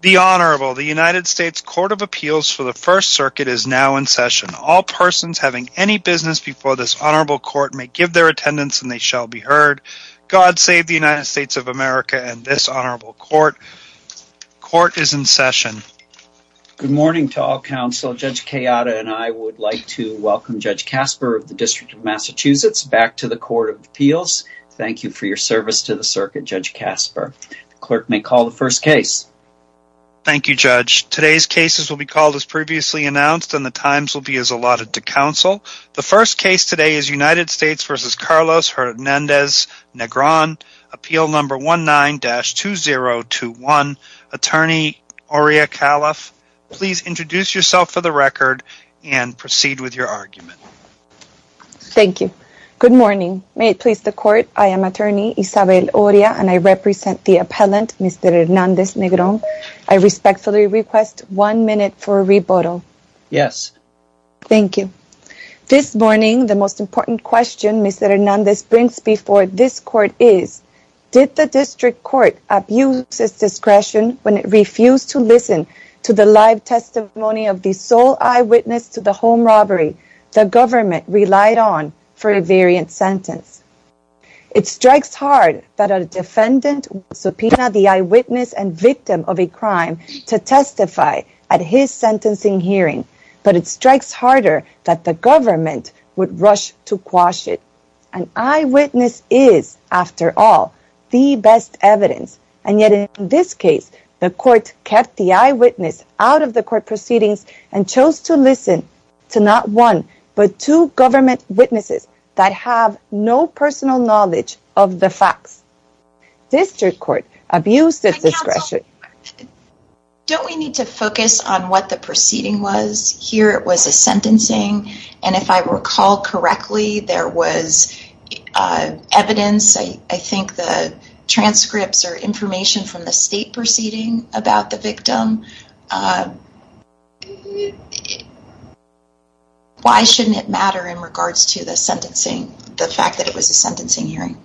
The Honorable, the United States Court of Appeals for the First Circuit is now in session. All persons having any business before this Honorable Court may give their attendance and they shall be heard. God save the United States of America and this Honorable Court. Court is in session. Good morning to all counsel. Judge Cayatta and I would like to welcome Judge Casper of the District of Massachusetts back to the Court of Appeals. Thank you for your service to the circuit. Judge Casper, the clerk may call the first case. Thank you, Judge. Today's cases will be called as previously announced and the times will be as allotted to counsel. The first case today is United States v. Carlos Hernandez-Negron, appeal number 19-2021. Attorney Aria Califf, please introduce yourself for the record and proceed with your argument. Thank you. Good morning. May it please the Court, I am attorney Isabel Aria and I represent the appellant, Mr. Hernandez-Negron. I respectfully request one minute for a rebuttal. Yes. Thank you. This morning, the most important question Mr. Hernandez brings before this Court is, did the District Court abuse its discretion when it refused to listen to the testimony of the sole eyewitness to the home robbery the government relied on for a variant sentence? It strikes hard that a defendant would subpoena the eyewitness and victim of a crime to testify at his sentencing hearing, but it strikes harder that the government would rush to quash it. An eyewitness is, after all, the best evidence, and yet in this case, the Court kept the eyewitness out of the Court proceedings and chose to listen to not one, but two government witnesses that have no personal knowledge of the facts. District Court abused its discretion. Don't we need to focus on what the proceeding was? Here it was a sentencing, and if I recall correctly, there was evidence, I think the about the victim. Why shouldn't it matter in regards to the sentencing, the fact that it was a sentencing hearing?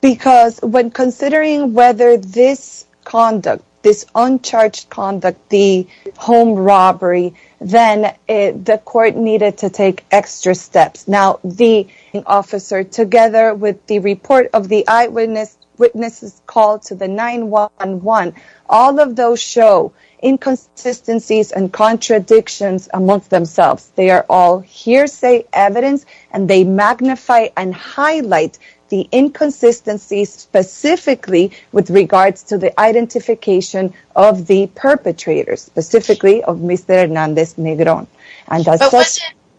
Because when considering whether this conduct, this uncharged conduct, the home robbery, then the Court needed to take extra steps. Now, the officer together with the report of the eyewitness witnesses called to the 9-1-1, all of those show inconsistencies and contradictions amongst themselves. They are all hearsay evidence, and they magnify and highlight the inconsistencies specifically with regards to the identification of the perpetrators, specifically of Mr. Hernandez Negron.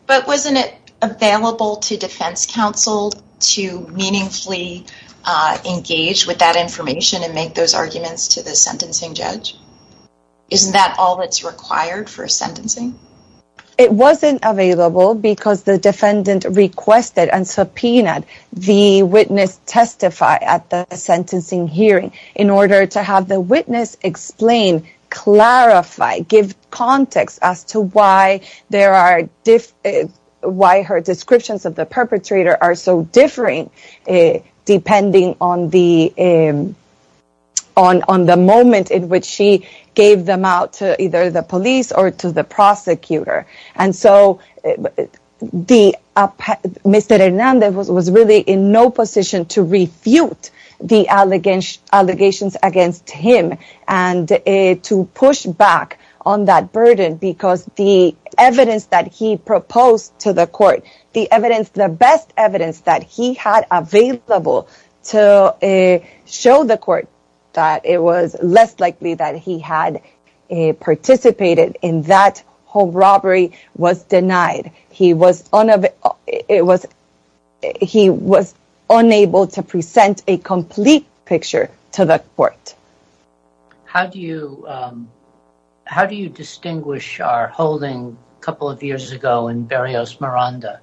But wasn't it available to defense counsel to meaningfully engage with that information and make those arguments to the sentencing judge? Isn't that all that's required for sentencing? It wasn't available because the defendant requested and subpoenaed the witness testify at the sentencing hearing in order to have the witness explain, clarify, give context as to why her descriptions of the perpetrator are so differing, depending on the moment in which she gave them out to either the police or to the prosecutor. And so, Mr. Hernandez was really in no position to refute the allegations against him and to push back on that burden because the evidence that he proposed to the Court, the best evidence that he had available to show the Court that it was less likely that he had participated in that robbery was denied. He was unable to present a complete picture to the Court. How do you distinguish our holding a couple of years ago in Barrios Miranda?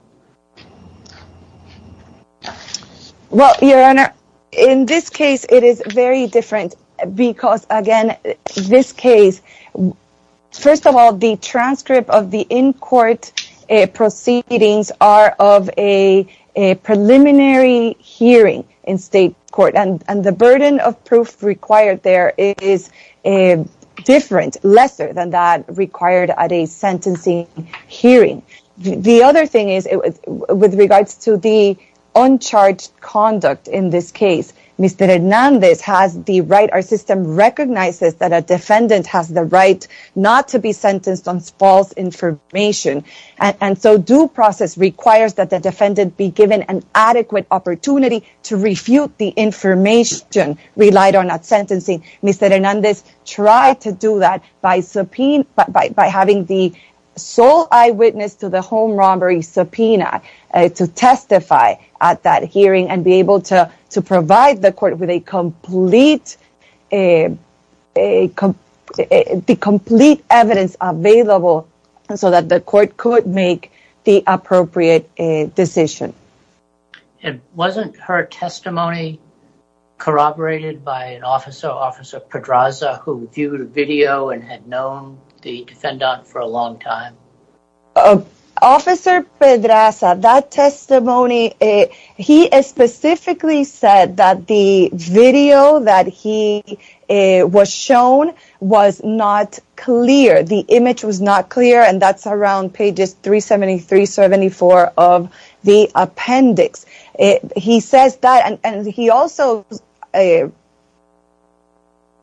Well, Your Honor, in this case, it is very different because, again, in this case, first of all, the transcript of the in-court proceedings are of a preliminary hearing in state court, and the burden of proof required there is different, lesser than that required at a sentencing hearing. The other thing is, with regards to the uncharged conduct in this case, Mr. Hernandez has the right, our system recognizes that a defendant has the right not to be sentenced on false information, and so due process requires that the defendant be given an adequate opportunity to refute the information relied on at sentencing. Mr. Hernandez tried to do that by having the sole eyewitness to the home robbery subpoena to testify at that hearing and be able to provide the Court with the complete evidence available so that the Court could make the appropriate decision. And wasn't her testimony corroborated by an officer, Officer Pedraza, who viewed a video and had known the defendant for a long time? Officer Pedraza, that testimony, he specifically said that the video that he was shown was not clear, the image was not clear, and that's around pages 373, 374 of the appendix. He says that, and he also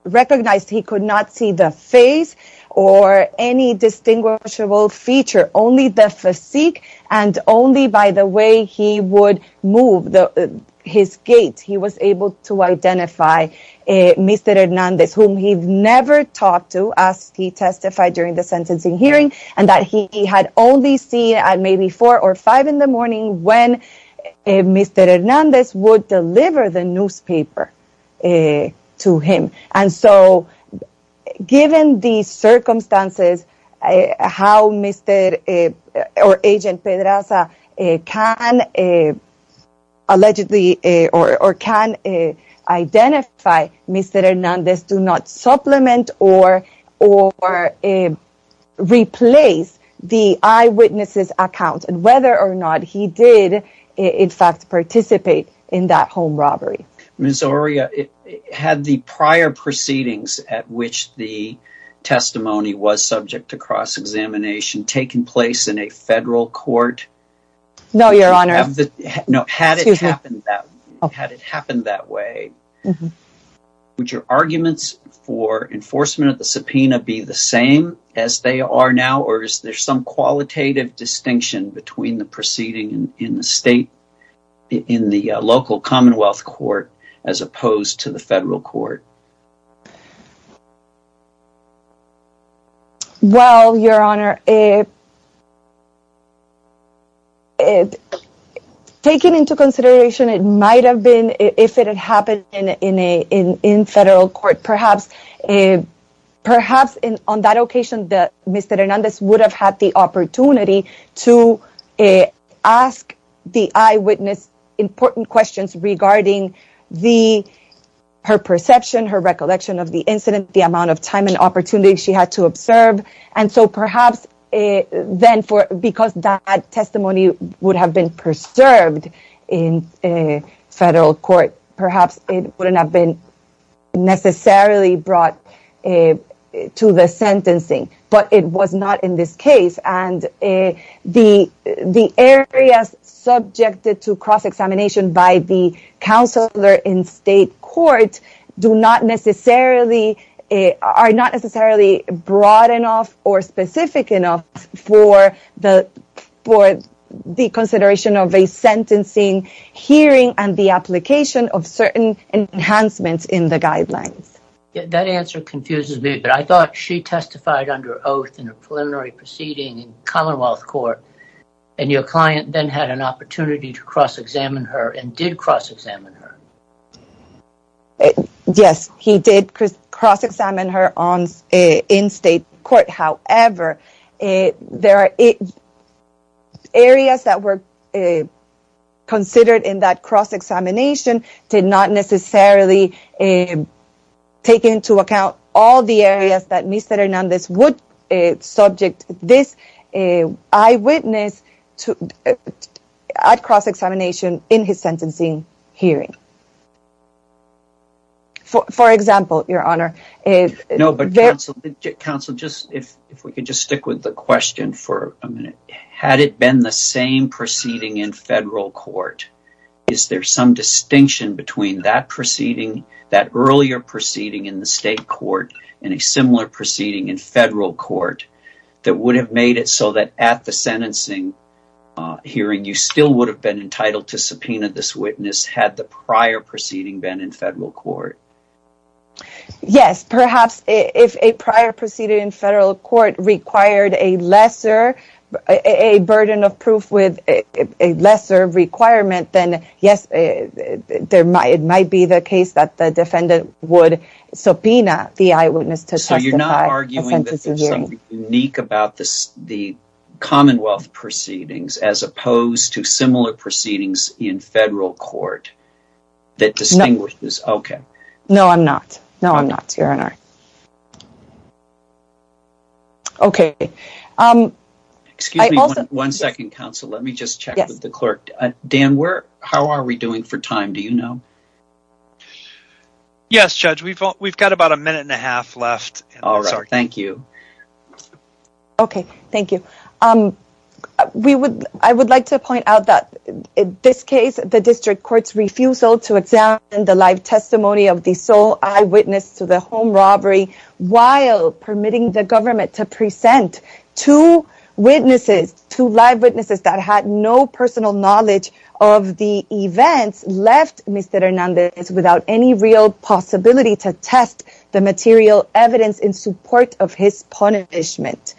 recognized he could not see the face or any distinguishable feature, only the physique, and only by the way he would move his gait he was able to identify Mr. Hernandez, whom he never talked to as he testified during the sentencing hearing, and that he had only seen at maybe four or five in the morning when Mr. Hernandez would deliver the newspaper to him. And so, given these circumstances, how Agent Pedraza can allegedly or can identify Mr. Hernandez do not supplement or replace the eyewitness's account and whether or not he did in fact participate in that home robbery. Ms. Oria, had the prior proceedings at which the testimony was subject to cross-examination taken place in a federal court? No, Your Honor. No, had it happened had it happened that way, would your arguments for enforcement of the subpoena be the same as they are now, or is there some qualitative distinction between the proceeding in the state, in the local commonwealth court, as opposed to the federal court? Well, Your Honor, taking into consideration it might have been if it had happened in a in in federal court, perhaps on that occasion that Mr. Hernandez would have had the opportunity to ask the eyewitness important questions regarding her perception, her recollection of the incident, the amount of time and opportunity she had to observe. And so, perhaps then, because that testimony would have been preserved in a federal court, perhaps it wouldn't have been necessarily brought to the sentencing, but it was not in this case. And the areas subjected to cross-examination by the counselor in state court do not necessarily, are not necessarily broad enough or specific enough for the consideration of a sentencing hearing and the application of certain enhancements in the guidelines. That answer confuses me, but I thought she testified under oath in a preliminary proceeding in commonwealth court, and your client then had an opportunity to cross-examine her and did cross-examine her. Yes, he did cross-examine her in state court. However, there are areas that were considered in that cross-examination did not necessarily take into account all the areas that Mr. Hernandez would subject this eyewitness at cross-examination in his sentencing hearing. For example, your honor. No, but counsel, if we could just stick with the question for a minute. Had it been the same proceeding in federal court, is there some distinction between that proceeding, that earlier proceeding in the state court, and a similar proceeding in federal court that would have made it so that at the sentencing hearing, you still would have been entitled to in federal court? Yes, perhaps if a prior proceeding in federal court required a lesser burden of proof with a lesser requirement, then yes, it might be the case that the defendant would subpoena the eyewitness to testify. So you're not arguing that there's something unique about the commonwealth proceedings as opposed to similar proceedings in federal court? That distinguishes? Okay. No, I'm not. No, I'm not, your honor. Okay. Excuse me one second, counsel. Let me just check with the clerk. Dan, how are we doing for time? Do you know? Yes, judge. We've got about a minute and a half left. All right, thank you. Okay, thank you. I would like to point out that in this case, the district court's refusal to examine the live testimony of the sole eyewitness to the home robbery while permitting the government to present two witnesses, two live witnesses that had no personal knowledge of the events left Mr. Hernandez without any real possibility to test the material evidence in support of his punishment.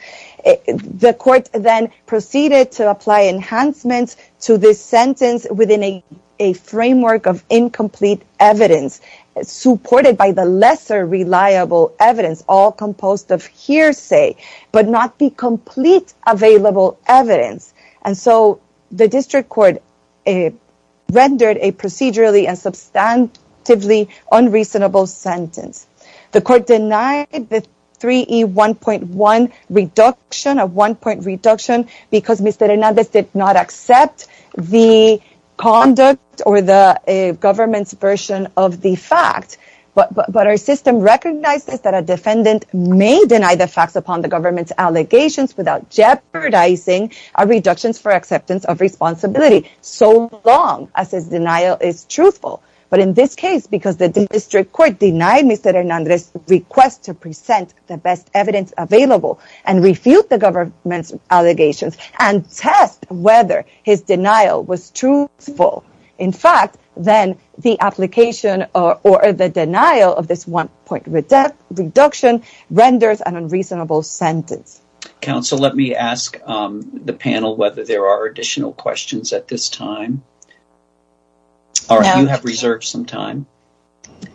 The court then proceeded to apply enhancements to this sentence within a framework of incomplete evidence supported by the lesser reliable evidence, all composed of hearsay, but not the complete available evidence. And so the district court rendered a procedurally and substantively unreasonable sentence. The court denied the 3E1.1 reduction of one point reduction because Mr. Hernandez did not accept the conduct or the government's version of the fact, but our system recognizes that a defendant may deny the facts upon the government's allegations without jeopardizing our reductions for acceptance of responsibility so long as his denial is truthful. But in this case, because the district court denied Mr. Hernandez's request to present the best evidence available and refute the government's allegations and test whether his denial was truthful, in fact, then the application or the denial of this one point reduction renders an unreasonable sentence. Counsel, let me ask the panel whether there are additional questions at this time. All right, you have reserved some time.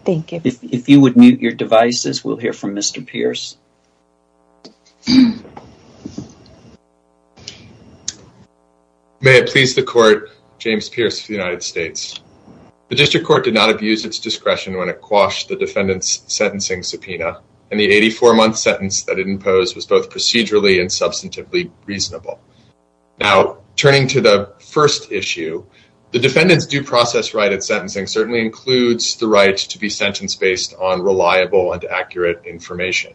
Thank you. If you would mute your devices, we'll hear from Mr. Pierce. May it please the court, James Pierce for the United States. The district court did not abuse its discretion when it quashed the defendant's sentencing subpoena and the 84-month sentence that it imposed was both procedurally and substantively reasonable. Now, turning to the first issue, the defendant's due process right at sentencing certainly includes the right to be sentenced based on reliable and accurate information,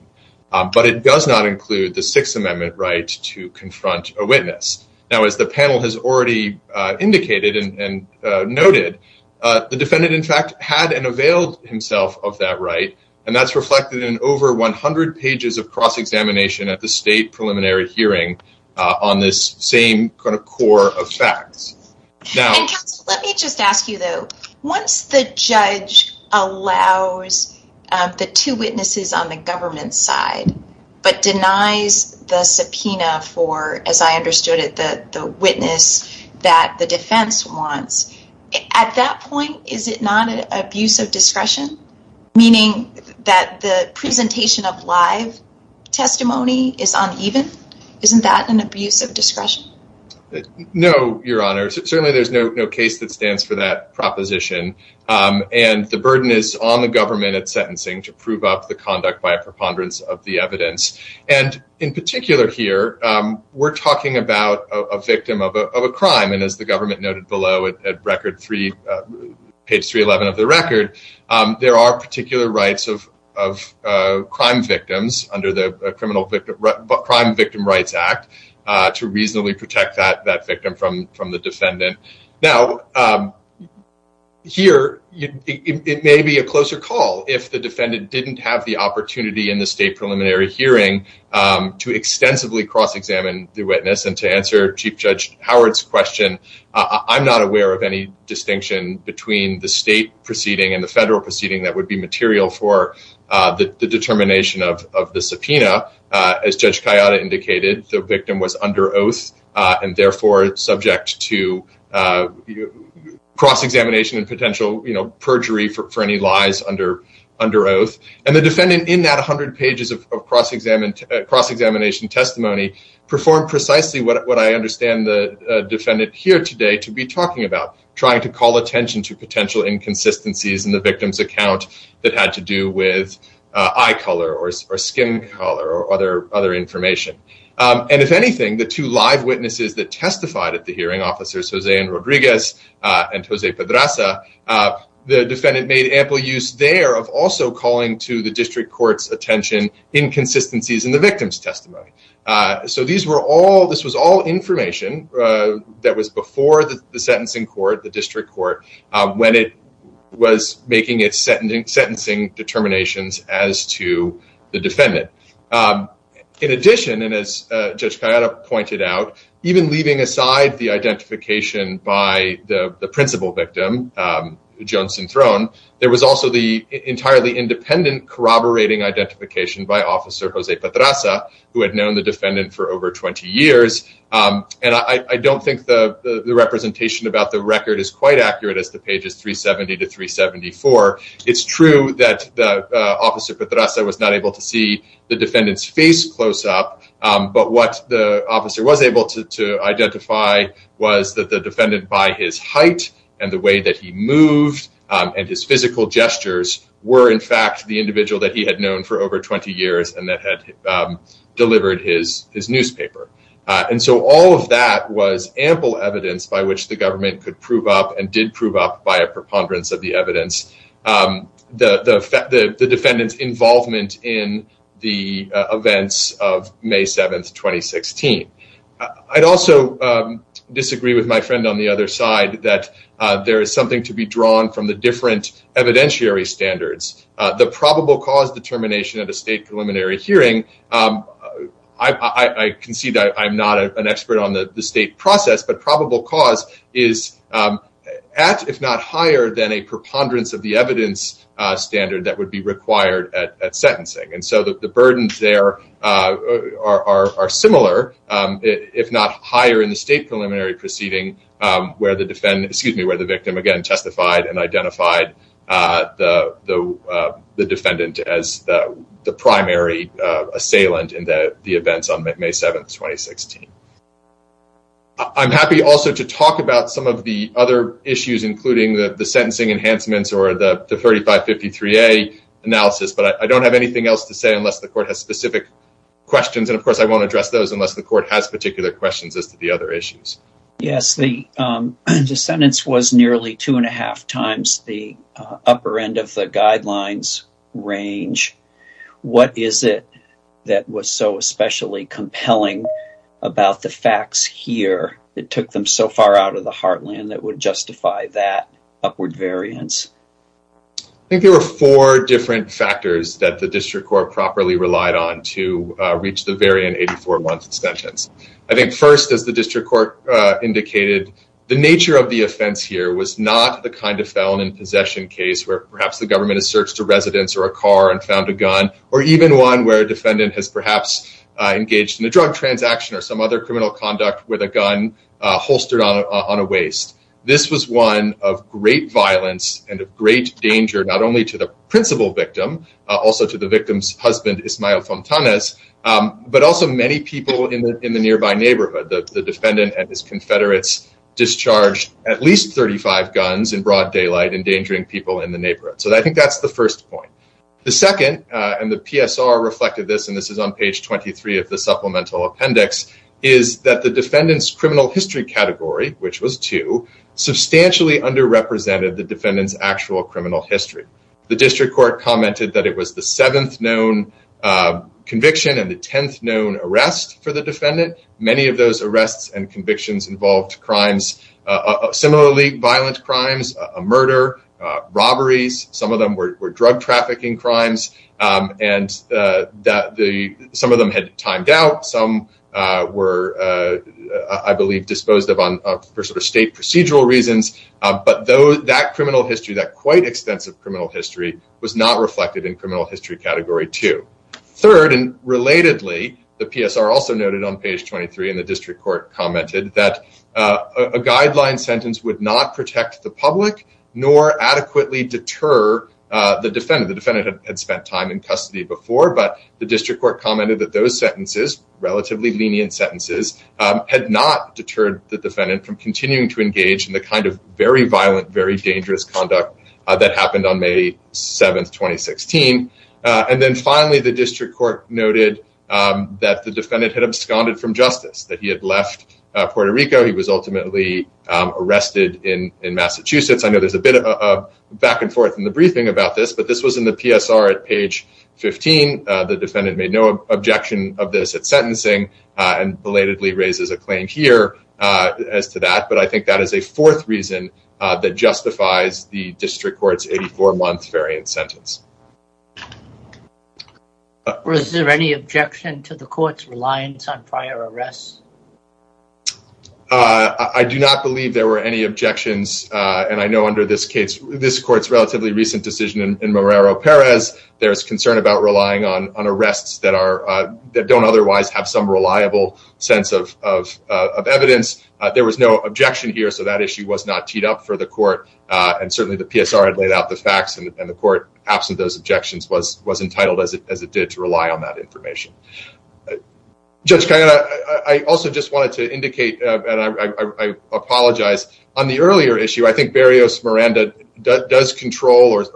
but it does not include the Sixth Amendment right to confront a witness. Now, as the panel has already indicated and noted, the defendant, in fact, had and availed himself of that right, and that's reflected in over 100 pages of cross-examination at the state preliminary hearing on this same kind of core of facts. And counsel, let me just ask you, though, once the judge allows the two witnesses on the government side but denies the subpoena for, as I understood it, the witness that the defense wants, at that point, is it not an abuse of discretion, meaning that the presentation of live testimony is uneven? Isn't that an abuse of discretion? No, Your Honor. Certainly, there's no case that stands for that proposition, and the burden is on the government at sentencing to prove up the conduct by a preponderance of the evidence. And in particular here, we're talking about a victim of a crime, and as the government noted below at page 311 of the record, there are particular rights of crime victims under the Crime Victim Rights Act to reasonably protect that victim from the defendant. Now, here, it may be a closer call if the defendant didn't have the opportunity in the state preliminary hearing to extensively cross-examine the witness and to answer Chief Judge Howard's question. I'm not aware of any distinction between the state proceeding and federal proceeding that would be material for the determination of the subpoena. As Judge Kayada indicated, the victim was under oath and therefore subject to cross-examination and potential perjury for any lies under oath. And the defendant in that 100 pages of cross-examination testimony performed precisely what I understand the defendant here today to be talking about, trying to call attention to potential inconsistencies in the victim's account that had to do with eye color or skin color or other information. And if anything, the two live witnesses that testified at the hearing, Officers Jose and Rodriguez and Jose Pedraza, the defendant made ample use there of also calling to the district court's attention inconsistencies in the victim's testimony. So this was all information that was before the sentencing court, the district court, when it was making its sentencing determinations as to the defendant. In addition, and as Judge Kayada pointed out, even leaving aside the identification by the principal victim, Jones and Throne, there was also the entirely independent corroborating identification by Officer Jose Pedraza, who had known the defendant for over 20 years. And I don't think the representation about the record is quite accurate as to pages 370 to 374. It's true that Officer Pedraza was not able to see the defendant's face close up, but what the officer was able to identify was that the defendant by his height and the way that he moved and his physical gestures were in fact the individual that he had known for over 20 years and that had delivered his newspaper. And so all of that was ample evidence by which the government could prove up and did prove up by a preponderance of the evidence, the defendant's involvement in the events of May 7th, 2016. I'd also disagree with my friend on the other side that there is to be drawn from the different evidentiary standards. The probable cause determination at a state preliminary hearing, I concede that I'm not an expert on the state process, but probable cause is at, if not higher than a preponderance of the evidence standard that would be required at sentencing. And so the burdens there are similar, if not higher in the state preliminary proceeding where the victim again testified and identified the defendant as the primary assailant in the events on May 7th, 2016. I'm happy also to talk about some of the other issues including the sentencing enhancements or the 3553A analysis, but I don't have anything else to say unless the court has specific questions. And of course, I won't address those unless the court has particular questions as to the other issues. Yes, the sentence was nearly two and a half times the upper end of the guidelines range. What is it that was so especially compelling about the facts here that took them so far out of the heartland that would justify that upward variance? I think there were four different factors that the district court properly relied on to reach the very end 84 month sentence. I think first as the district court indicated, the nature of the offense here was not the kind of felon in possession case where perhaps the government has searched a residence or a car and found a gun or even one where a defendant has perhaps engaged in a drug transaction or some other criminal conduct with a gun holstered on a waist. This was one of great violence and of great danger, not only to the principal victim, also to the victim's husband, Ismael Fontanes, but also many people in the nearby neighborhood. The defendant and his confederates discharged at least 35 guns in broad daylight, endangering people in the neighborhood. So I think that's the first point. The second, and the PSR reflected this, and this is on page 23 of the supplemental appendix, is that the defendant's criminal history category, which was two, substantially underrepresented the defendant's actual criminal history. The district court commented that it was the seventh known conviction and the tenth known arrest for the defendant. Many of those arrests and convictions involved crimes, similarly violent crimes, murder, robberies, some of them were drug trafficking crimes, and some of them had timed out. Some were, I believe, disposed of for sort of state procedural reasons, but that criminal history, that quite extensive criminal history, was not reflected in criminal history category two. Third, and relatedly, the PSR also noted on page 23, and the district court commented, that a guideline sentence would not protect the public nor adequately deter the defendant. The defendant had spent time in custody before, but the district court commented that those sentences, relatively lenient sentences, had not deterred the defendant from continuing to engage in the kind of very violent, very dangerous conduct that happened on May 7, 2016. And then finally, the district court noted that the defendant had absconded from justice, that he had left Puerto Rico, he was ultimately arrested in Massachusetts. I know there's a bit of back and forth in the briefing about this, but this was in PSR at page 15. The defendant made no objection of this at sentencing, and belatedly raises a claim here as to that, but I think that is a fourth reason that justifies the district court's 84 month variant sentence. Was there any objection to the court's reliance on prior arrests? I do not believe there were any objections, and I know under this case, this court's relatively recent decision in Morero-Perez, there's concern about relying on arrests that don't otherwise have some reliable sense of evidence. There was no objection here, so that issue was not teed up for the court, and certainly the PSR had laid out the facts, and the court, absent those objections, was entitled, as it did, to rely on that information. Judge Cayana, I also just wanted to indicate, and I apologize, on the earlier issue, I think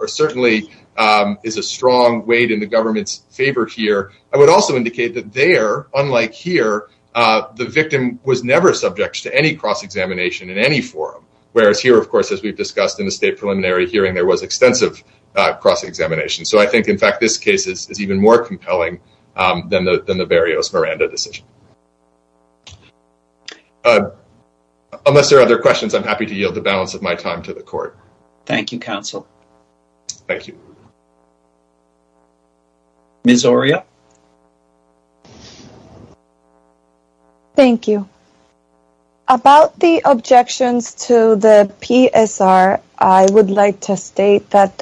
certainly is a strong weight in the government's favor here. I would also indicate that there, unlike here, the victim was never subject to any cross-examination in any forum, whereas here, of course, as we've discussed in the state preliminary hearing, there was extensive cross-examination. So I think, in fact, this case is even more compelling than the Berrios-Miranda decision. Unless there are other questions, I'm happy to yield the balance of my time to the court. Thank you, counsel. Thank you. Ms. Oria. Thank you. About the objections to the PSR, I would like to state that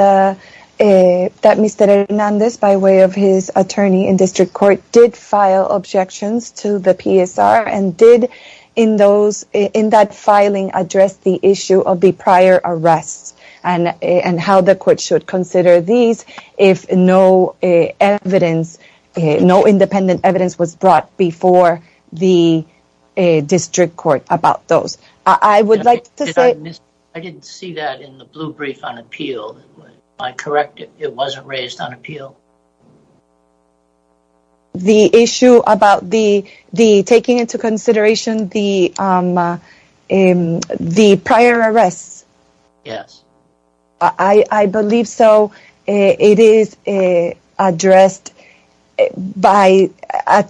Mr. Hernandez, by way of his attorney in district court, did file objections to the PSR and did, in that filing, address the issue of the prior arrests and how the court should consider these if no independent evidence was brought before the district court about those. I would like to say… I didn't see that in the blue brief on appeal. Am I correct if it wasn't raised on appeal? The issue about the taking into consideration the prior arrests? Yes. I believe so. It is addressed by…and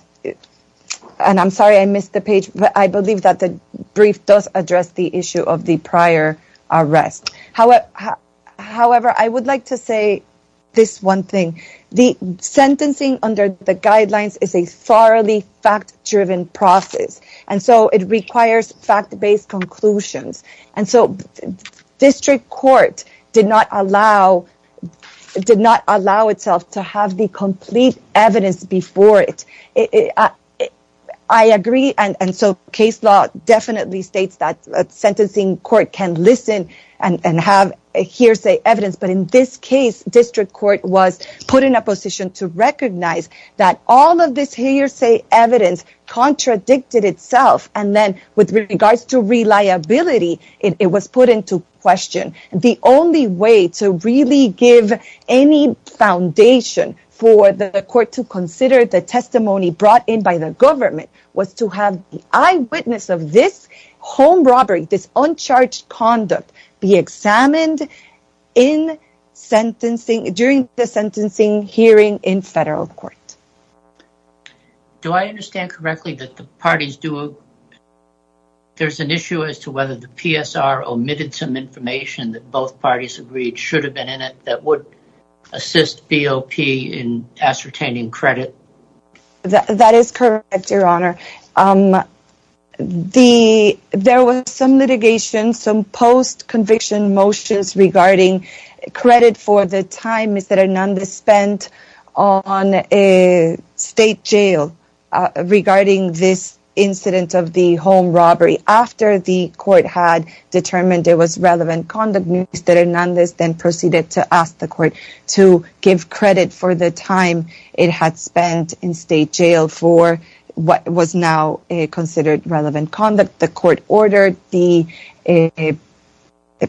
I'm sorry I missed the page, but I believe that the brief does address the issue of the prior arrests. However, I would like to say this one thing. The sentencing under the guidelines is a thoroughly fact-driven process, and so it requires fact-based conclusions, and so district court did not allow itself to have the complete evidence before it. I agree, and so case law definitely states that a sentencing court can listen and have hearsay evidence, but in this case, district court was put in a position to recognize that all of this hearsay evidence contradicted itself, and then, with regards to reliability, it was put into question. The only way to really give any foundation for the court to consider the testimony brought in by the government was to have the eyewitness of this home robbery, this uncharged conduct, be examined during the sentencing hearing in federal court. Do I understand correctly that there's an issue as to whether the PSR omitted some information that both parties agreed should have been in it that would assist BOP in ascertaining credit? That is correct, Your Honor. There was some litigation, some post-conviction motions regarding credit for the time Mr. Hernandez spent on a state jail regarding this incident of the home robbery after the court had determined there was relevant conduct. Mr. Hernandez then proceeded to ask the state jail for what was now considered relevant conduct. The court ordered the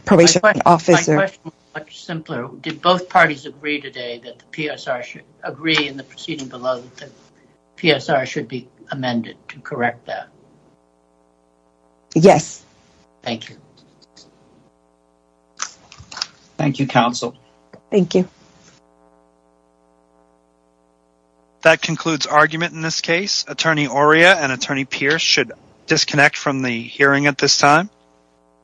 probation officer— My question is much simpler. Did both parties agree today that the PSR should—agree in the proceeding below that the PSR should be amended to correct that? Yes. Thank you. Thank you, counsel. Thank you. That concludes argument in this case. Attorney Oria and Attorney Pierce should disconnect from the hearing at this time.